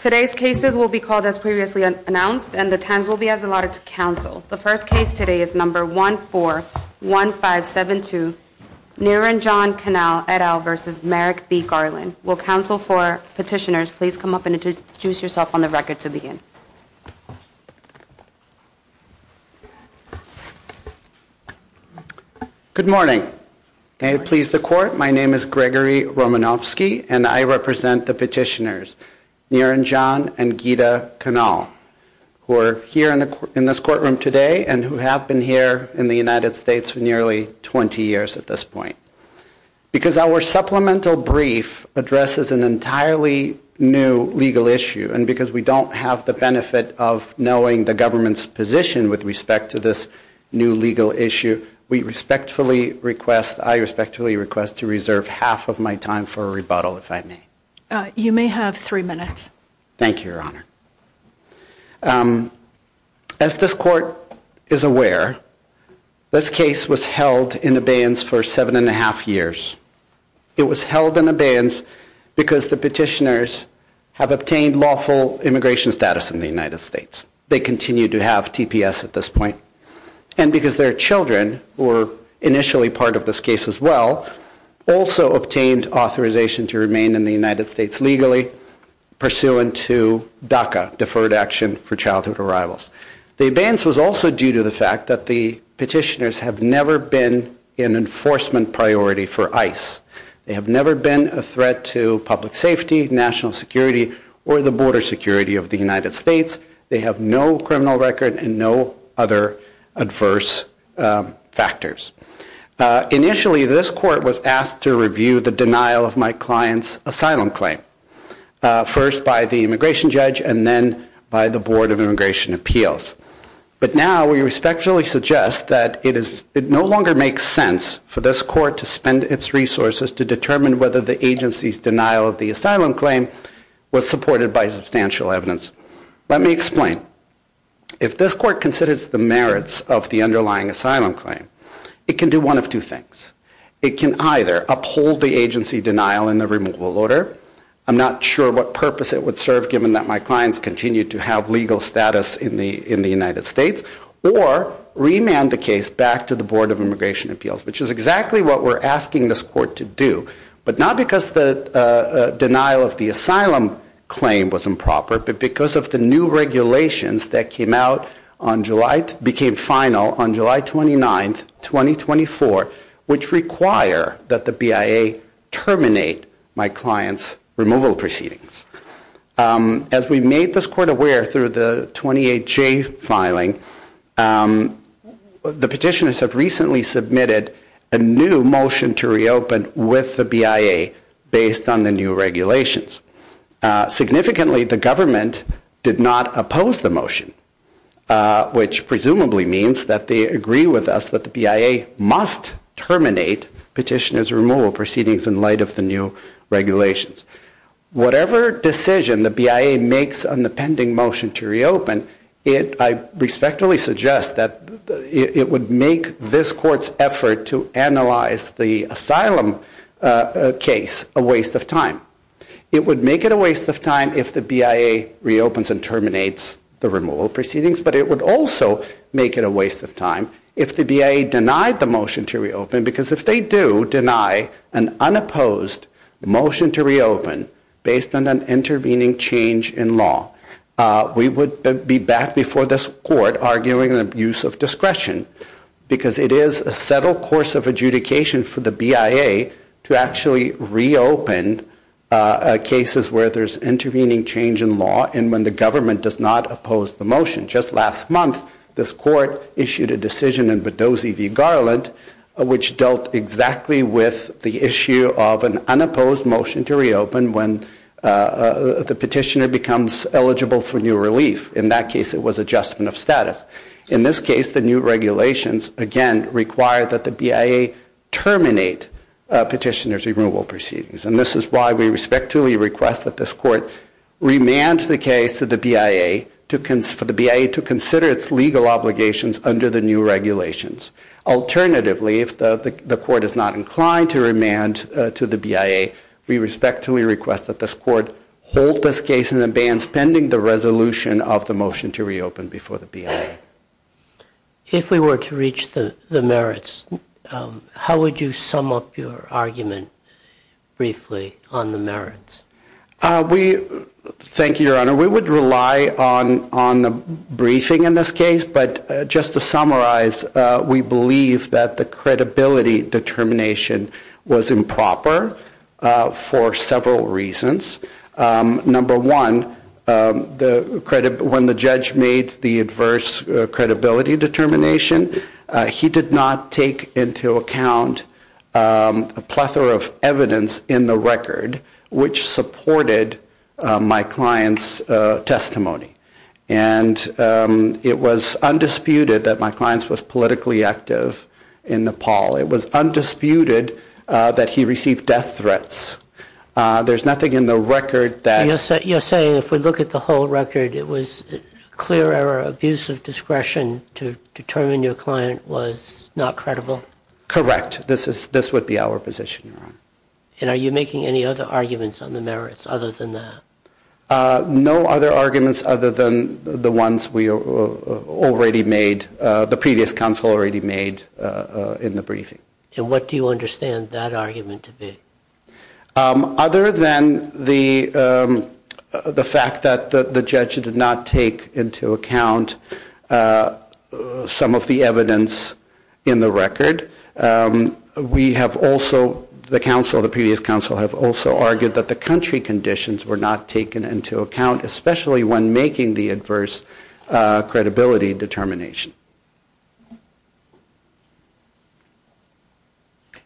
Today's cases will be called as previously announced and the times will be as allotted to counsel. The first case today is No. 141572, Niranjan Kanal et al. v. Merrick B. Garland. Will counsel for petitioners please come up and introduce yourself on the record to begin. Good morning. May it please the court, my name is Gregory Romanofsky and I represent the petitioners Niranjan and Gita Kanal who are here in this courtroom today and who have been here in the United States for nearly 20 years at this point. Because our supplemental brief addresses an entirely new legal issue and because we don't have the benefit of knowing the government's position with respect to this new legal issue, we respectfully request, I respectfully request to reserve half of my time for a rebuttal if I may. You may have three minutes. Thank you, Your Honor. As this court is aware, this case was held in abeyance for seven and a half years. It was held in abeyance because the petitioners have obtained lawful immigration status in the United States. They continue to have TPS at this point. And because their children, who were initially part of this case as well, also obtained authorization to remain in the United States legally pursuant to DACA, Deferred Action for Childhood Arrivals. The abeyance was also due to the fact that the petitioners have never been an enforcement priority for ICE. They have never been a threat to public safety, national security, or the border security of the United States. They have no criminal record and no other adverse factors. Initially, this court was asked to review the denial of my client's asylum claim, first by the immigration judge and then by the Board of Immigration Appeals. But now we respectfully suggest that it no longer makes sense for this court to spend its resources to determine whether the agency's denial of the asylum claim was supported by substantial evidence. Let me explain. If this court considers the merits of the underlying asylum claim, it can do one of two things. It can either uphold the agency denial in the removal order, I'm not sure what purpose it would serve given that my clients continue to have legal status in the United States, or remand the case back to the Board of Immigration Appeals, which is exactly what we're asking this court to do, but not because the denial of the asylum claim was improper, but because of the new regulations that came out on July, became final on July 29, 2024, which require that the BIA terminate my client's removal proceedings. As we made this court aware through the 28J filing, the petitioners have recently submitted a new motion to reopen with the BIA based on the new regulations. Significantly, the government did not oppose the motion, which presumably means that they agree with us that the BIA must terminate petitioner's removal proceedings in light of the new regulations. Whatever decision the BIA makes on the pending motion to reopen, I respectfully suggest that it would make this court's effort to analyze the asylum case a waste of time. It would make it a waste of time if the BIA reopens and terminates the removal proceedings, but it would also make it a waste of time if the BIA denied the motion to reopen, because if they do deny an unopposed motion to reopen based on an intervening change in law, we would be back before this court arguing an abuse of discretion, because it is a settled course of adjudication for the BIA to actually reopen cases where there's intervening change in law and when the government does not oppose the motion. Just last month, this court issued a decision in Badozi v. Garland, which dealt exactly with the issue of an unopposed motion to reopen when the petitioner becomes eligible for new relief. In that case, it was adjustment of status. In this case, the new regulations, again, require that the BIA terminate petitioner's removal proceedings, and this is why we respectfully request that this court remand the case to the BIA for the BIA to consider its legal obligations under the new regulations. Alternatively, if the court is not inclined to remand to the BIA, we respectfully request that this court hold this case in abeyance pending the resolution of the motion to reopen before the BIA. If we were to reach the merits, how would you sum up your argument briefly on the merits? Thank you, Your Honor. We would rely on the briefing in this case, but just to summarize, we believe that the credibility determination was improper for several reasons. Number one, when the judge made the adverse credibility determination, he did not take into account a plethora of evidence in the record which supported my client's testimony. It was undisputed that my client was politically active in Nepal. It was undisputed that he received death threats. There's nothing in the record that... You're saying if we look at the whole record, it was clear error, abuse of discretion to determine your client was not credible? Correct. This would be our position, Your Honor. And are you making any other arguments on the merits other than that? No other arguments other than the ones we already made, the previous counsel already made in the briefing. And what do you understand that argument to be? Other than the fact that the judge did not take into account some of the evidence in the record, we have also, the counsel, the previous counsel have also argued that the country conditions were not taken into account, especially when making the adverse credibility determination.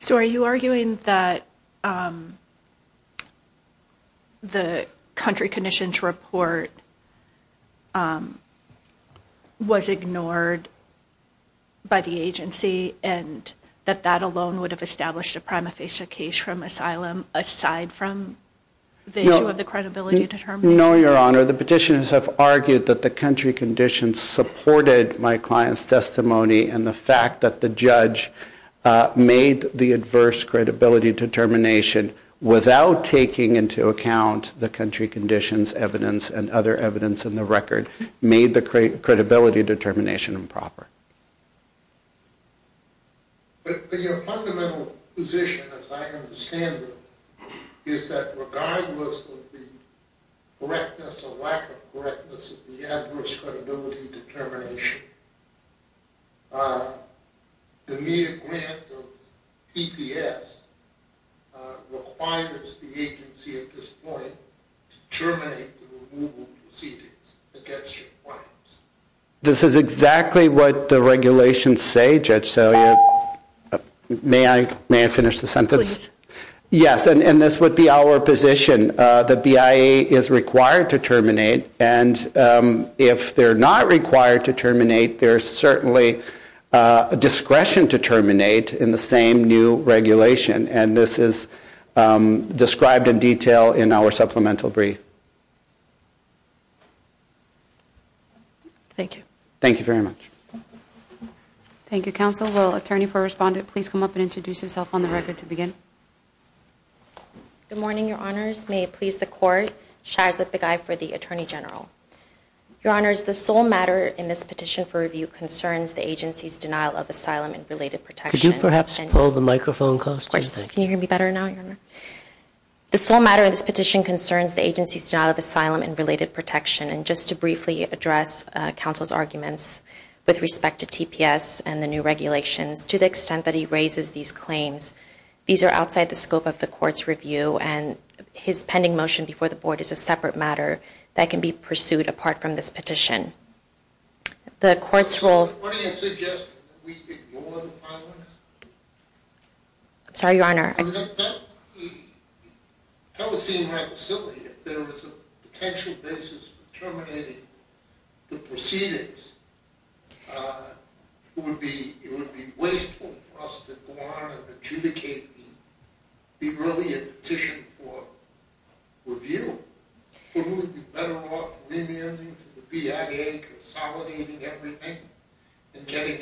So are you arguing that the country conditions report was ignored by the agency and that that alone would have established a prima facie case from asylum aside from the issue of the credibility determination? No, Your Honor. The petitioners have argued that the country conditions supported my client's testimony. And the fact that the judge made the adverse credibility determination without taking into account the country conditions evidence and other evidence in the record made the credibility determination improper. But your fundamental position, as I understand it, is that regardless of the correctness or lack of correctness of the adverse credibility determination, the mere grant of TPS requires the agency at this point to terminate the removal proceedings against your clients. This is exactly what the regulations say, Judge Salier. May I finish the sentence? Yes, and this would be our position. The BIA is required to terminate, and if they're not required to terminate, there's certainly discretion to terminate in the same new regulation. And this is described in detail in our supplemental brief. Thank you. Thank you very much. Thank you, Counsel. Will Attorney for Respondent please come up and introduce herself on the record to begin? Good morning, Your Honors. May it please the Court. Shahrzad Begay for the Attorney General. Your Honors, the sole matter in this petition for review concerns the agency's denial of asylum and related protection. Could you perhaps pull the microphone closer? Of course. Can you hear me better now, Your Honor? The sole matter of this petition concerns the agency's denial of asylum and related protection, and just to briefly address Counsel's arguments with respect to TPS and the new regulations, to the extent that he raises these claims. These are outside the scope of the Court's review, and his pending motion before the Board is a separate matter that can be pursued apart from this petition. The Court's role... What are you suggesting? That we ignore the filings? Sorry, Your Honor. That would seem rather silly if there was a potential basis for terminating the proceedings. It would be wasteful for us to go on and adjudicate the earlier petition for review. Wouldn't it be better off remanding to the BIA, consolidating everything, and getting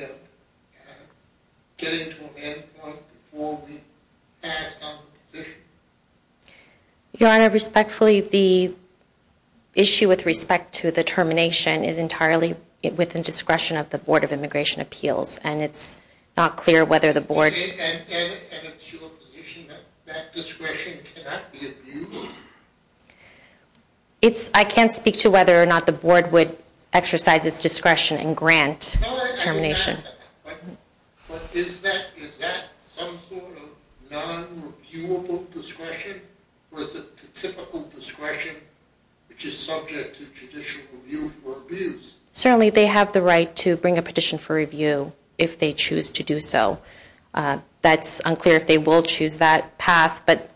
to an end point before we pass on the position? Your Honor, respectfully, the issue with respect to the termination is entirely... with the discretion of the Board of Immigration Appeals, and it's not clear whether the Board... And it's your position that that discretion cannot be abused? It's... I can't speak to whether or not the Board would exercise its discretion and grant termination. But is that some sort of non-reviewable discretion, or is it the typical discretion which is subject to judicial review for abuse? Certainly, they have the right to bring a petition for review if they choose to do so. That's unclear if they will choose that path, but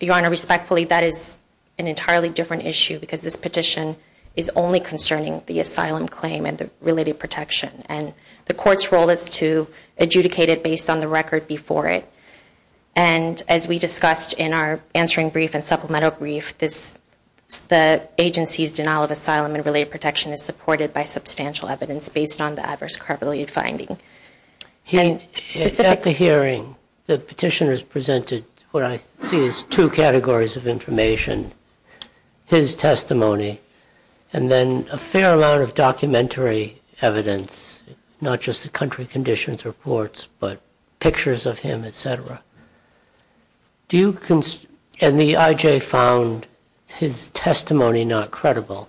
Your Honor, respectfully, that is an entirely different issue because this petition is only concerning the asylum claim and the related protection, and the Court's role is to adjudicate it based on the record before it. And as we discussed in our answering brief and supplemental brief, the agency's denial of asylum and related protection is supported by substantial evidence based on the adverse carpet lead finding. At the hearing, the petitioners presented what I see as two categories of information, his testimony, and then a fair amount of documentary evidence, not just the country conditions reports, but pictures of him, et cetera. And the I.J. found his testimony not credible.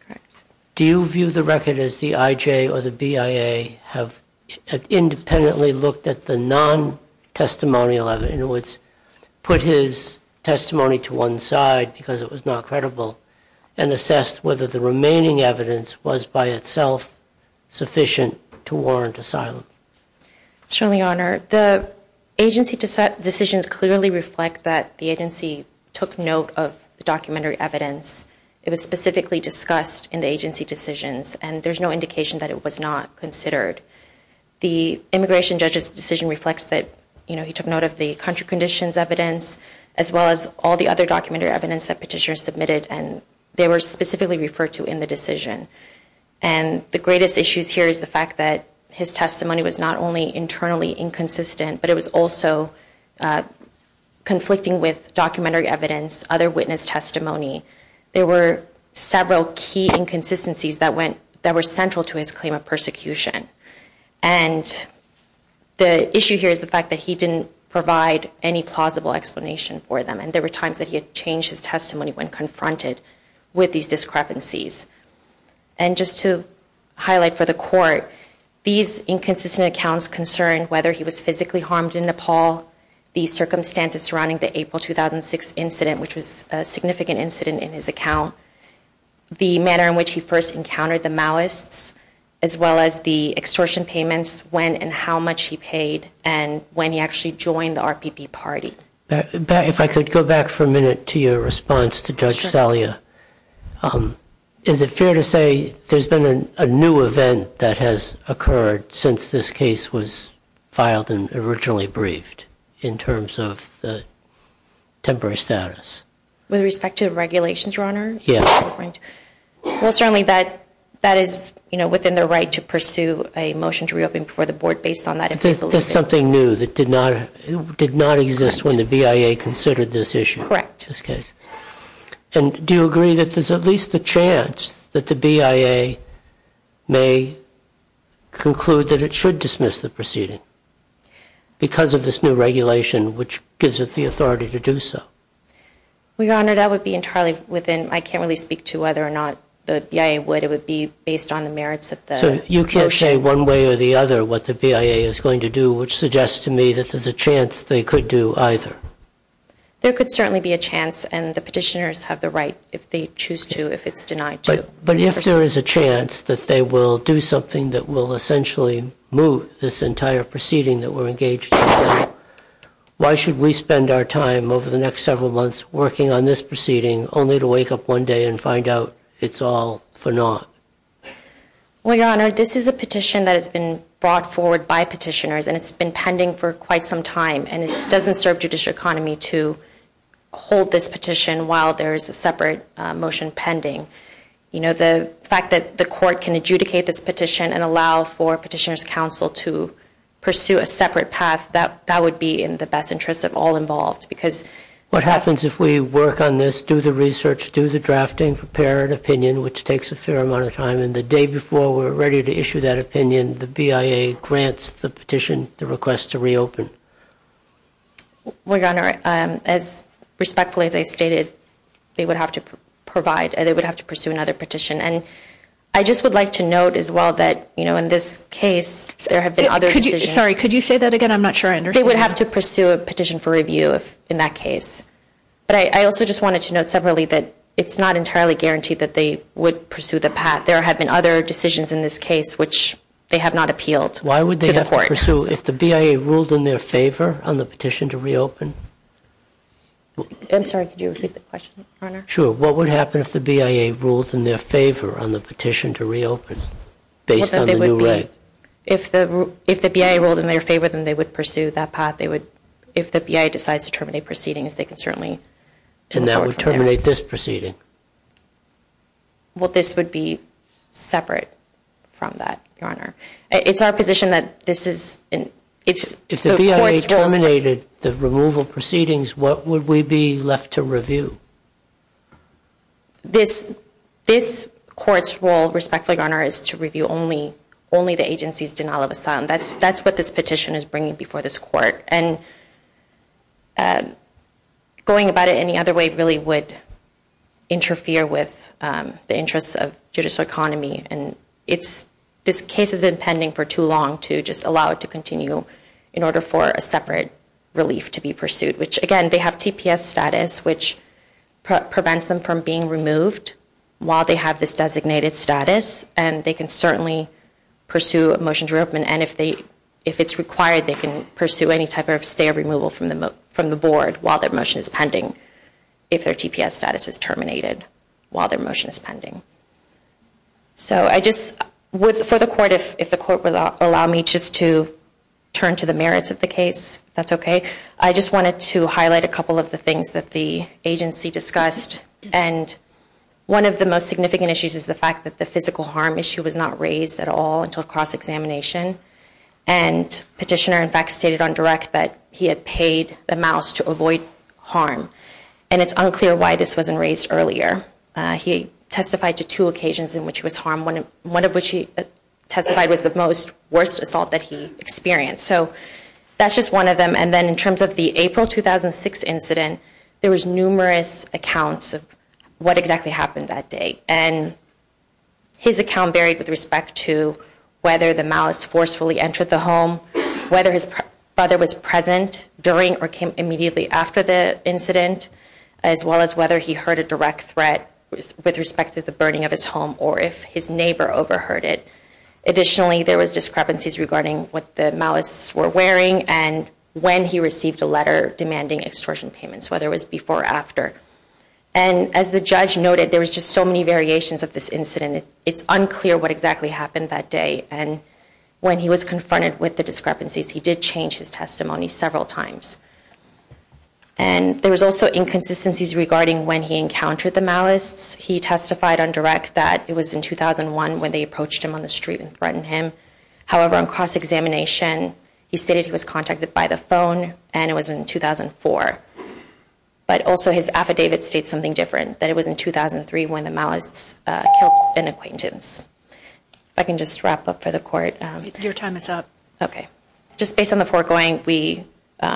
Correct. Do you view the record as the I.J. or the BIA have independently looked at the non-testimonial evidence, in other words, put his testimony to one side because it was not credible, and assessed whether the remaining evidence was by itself sufficient to warrant asylum? Certainly, Your Honor. The agency decisions clearly reflect that the agency took note of the documentary evidence. It was specifically discussed in the agency decisions, and there's no indication that it was not considered. The immigration judge's decision reflects that, you know, he took note of the country conditions evidence, as well as all the other documentary evidence that petitioners submitted, and they were specifically referred to in the decision. And the greatest issues here is the fact that his testimony was not only internally inconsistent, but it was also conflicting with documentary evidence, other witness testimony. There were several key inconsistencies that were central to his claim of persecution. And the issue here is the fact that he didn't provide any plausible explanation for them, and there were times that he had changed his testimony when confronted with these discrepancies. And just to highlight for the Court, these inconsistent accounts concern whether he was physically harmed in Nepal, the circumstances surrounding the April 2006 incident, which was a significant incident in his account, the manner in which he first encountered the Maoists, as well as the extortion payments, when and how much he paid, and when he actually joined the RPB party. If I could go back for a minute to your response to Judge Salia, is it fair to say there's been a new event that has occurred since this case was filed and originally briefed in terms of the temporary status? With respect to regulations, Your Honor? Yeah. Well, certainly that is, you know, within the right to pursue a motion to reopen before the Board based on that infallibility. But there's something new that did not exist when the BIA considered this issue. Correct. In this case. And do you agree that there's at least a chance that the BIA may conclude that it should dismiss the proceeding because of this new regulation, which gives it the authority to do so? Well, Your Honor, that would be entirely within, I can't really speak to whether or not the BIA would. It would be based on the merits of the motion. I can't say one way or the other what the BIA is going to do, which suggests to me that there's a chance they could do either. There could certainly be a chance, and the petitioners have the right if they choose to, if it's denied to. But if there is a chance that they will do something that will essentially move this entire proceeding that we're engaged in, why should we spend our time over the next several months working on this proceeding only to wake up one day and find out it's all for naught? Well, Your Honor, this is a petition that has been brought forward by petitioners, and it's been pending for quite some time. And it doesn't serve judicial economy to hold this petition while there is a separate motion pending. You know, the fact that the court can adjudicate this petition and allow for petitioners' counsel to pursue a separate path, that would be in the best interests of all involved. What happens if we work on this, do the research, do the drafting, prepare an opinion at that time, and the day before we're ready to issue that opinion, the BIA grants the petition the request to reopen? Well, Your Honor, as respectfully as I stated, they would have to provide, they would have to pursue another petition. And I just would like to note as well that, you know, in this case, there have been other decisions. Sorry, could you say that again? I'm not sure I understand. They would have to pursue a petition for review in that case. But I also just wanted to note separately that it's not entirely guaranteed that they would pursue the path. There have been other decisions in this case which they have not appealed to the court. Why would they have to pursue, if the BIA ruled in their favor on the petition to reopen? I'm sorry, could you repeat the question, Your Honor? Sure. What would happen if the BIA ruled in their favor on the petition to reopen based on the new right? Well, then they would be, if the BIA ruled in their favor, then they would pursue that path. They would, if the BIA decides to terminate proceedings, they can certainly and that would terminate this proceeding. Well, this would be separate from that, Your Honor. It's our position that this is, it's the court's role. If the BIA terminated the removal proceedings, what would we be left to This court's role, respectfully, Your Honor, is to review only the agency's denial of asylum. That's what this petition is bringing before this court. And going about it any other way really would interfere with the interests of judicial economy. And it's, this case has been pending for too long to just allow it to continue in order for a separate relief to be pursued. Which, again, they have TPS status, which prevents them from being removed while they have this designated status. And they can certainly pursue a motion to reopen. And if they, if it's required, they can pursue any type of stay of removal from the board while their motion is pending. If their TPS status is terminated while their motion is pending. So I just, for the court, if the court would allow me just to turn to the merits of the case, if that's okay. I just wanted to highlight a couple of the things that the agency discussed. And one of the most significant issues is the fact that the physical harm issue was not raised at all until cross-examination. And petitioner, in fact, stated on direct that he had paid the mouse to avoid harm. And it's unclear why this wasn't raised earlier. He testified to two occasions in which he was harmed. One of which he testified was the most, worst assault that he experienced. So that's just one of them. And then in terms of the April 2006 incident, there was numerous accounts of what exactly happened that day. And his account varied with respect to whether the mouse forcefully entered the home, whether his brother was present during or came immediately after the incident, as well as whether he heard a direct threat with respect to the burning of his home or if his neighbor overheard it. Additionally, there was discrepancies regarding what the mouse were wearing and when he received a letter demanding extortion payments, whether it was before or after. And as the judge noted, there was just so many variations of this incident. It's unclear what exactly happened that day. And when he was confronted with the discrepancies, he did change his testimony several times. And there was also inconsistencies regarding when he encountered the malice. He testified on direct that it was in 2001 when they approached him on the street and threatened him. However, on cross-examination, he stated he was contacted by the phone and it was in 2004. But also, his affidavit states something different, that it was in 2003 when the malice killed an acquaintance. If I can just wrap up for the court. Your time is up. Okay. Just based on the foregoing, we,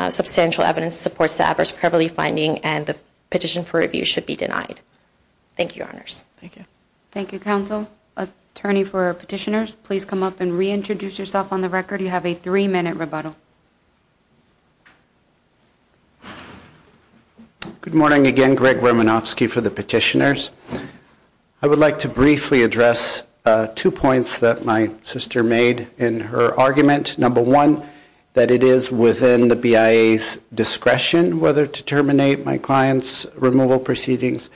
substantial evidence supports the adverse credulity finding and the petition for review should be Thank you, your honors. Thank you. Thank you, counsel. Attorney for petitioners, please come up and reintroduce yourself on the record. You have a three-minute rebuttal. Good morning again. Greg Romanofsky for the petitioners. I would like to briefly address two points that my sister made in her argument. Number one, that it is within the BIA's discretion whether to terminate my client's removal proceedings.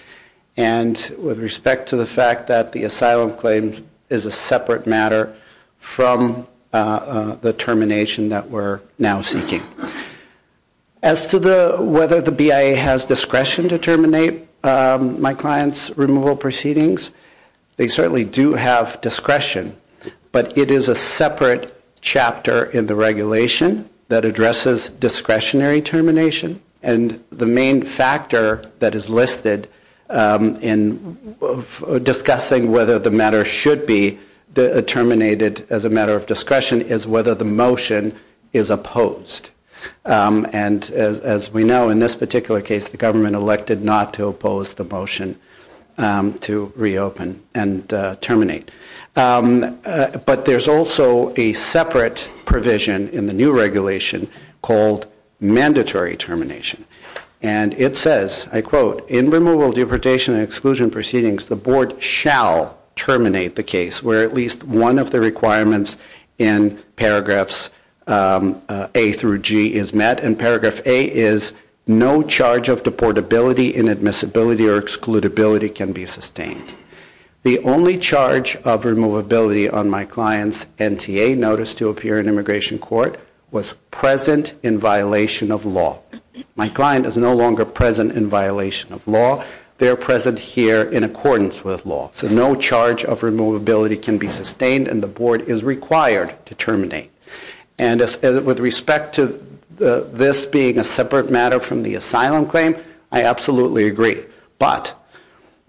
And with respect to the fact that the asylum claim is a separate matter from the termination that we're considering. As to whether the BIA has discretion to terminate my client's removal proceedings, they certainly do have discretion. But it is a separate chapter in the regulation that addresses discretionary termination. And the main factor that is listed in discussing whether the matter should be terminated as a matter of discretion is whether the motion is opposed. And as we know, in this particular case, the government elected not to oppose the motion to reopen and terminate. But there's also a separate provision in the new regulation called mandatory termination. And it says, I quote, in removal, deportation, and exclusion proceedings, the board shall terminate the case where at least one of the requirements in paragraphs A through G is met. And paragraph A is, no charge of deportability, inadmissibility, or excludability can be sustained. The only charge of removability on my client's NTA notice to appear in immigration court was present in violation of law. My client is no longer present in violation of law. They're present here in accordance with law. So no charge of removability can be sustained, and the board is required to terminate. And with respect to this being a separate matter from the asylum claim, I absolutely agree. But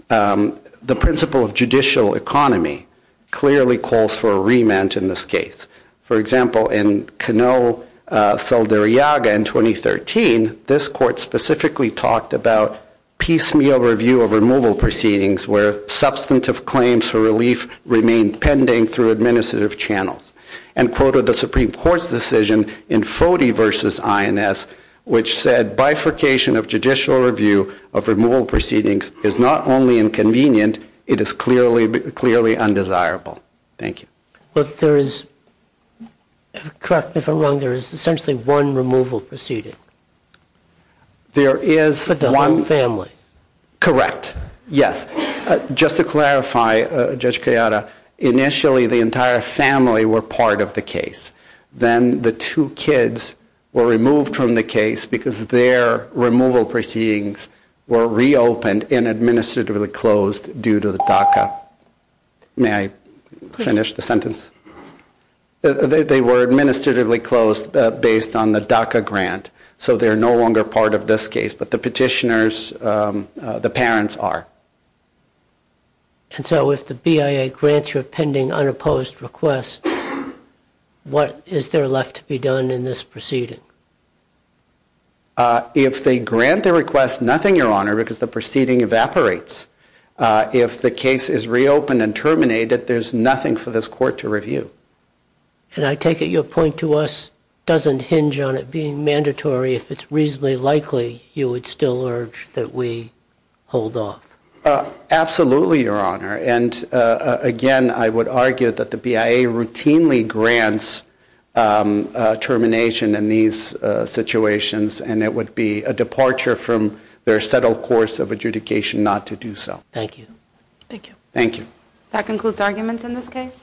the principle of judicial economy clearly calls for a remand in this case. For example, in Cano Saldarriaga in 2013, this court specifically talked about piecemeal review of removal proceedings where substantive claims for relief remain pending through administrative channels. And quoted the Supreme Court's decision in Fody v. INS, which said bifurcation of judicial review of removal proceedings is not only inconvenient, it is clearly undesirable. Thank you. Well, there is, correct me if I'm wrong, there is essentially one removal proceeding. There is one. For the whole family. Correct. Yes. Just to clarify, Judge Kayada, initially the entire family were part of the case. Then the two kids were removed from the case because their removal proceedings were reopened and administratively closed due to the DACA. May I finish the sentence? They were administratively closed based on the DACA grant, so they're no longer part of this case. But the petitioners, the parents are. And so if the BIA grants you a pending unopposed request, what is there left to be done in this proceeding? If they grant the request, nothing, Your Honor, because the proceeding evaporates. If the case is reopened and terminated, there's nothing for this court to review. And I take it your point to us doesn't hinge on it being I would still urge that we hold off. Absolutely, Your Honor. And again, I would argue that the BIA routinely grants termination in these situations, and it would be a departure from their settled course of adjudication not to do so. Thank you. Thank you. Thank you. That concludes arguments in this case.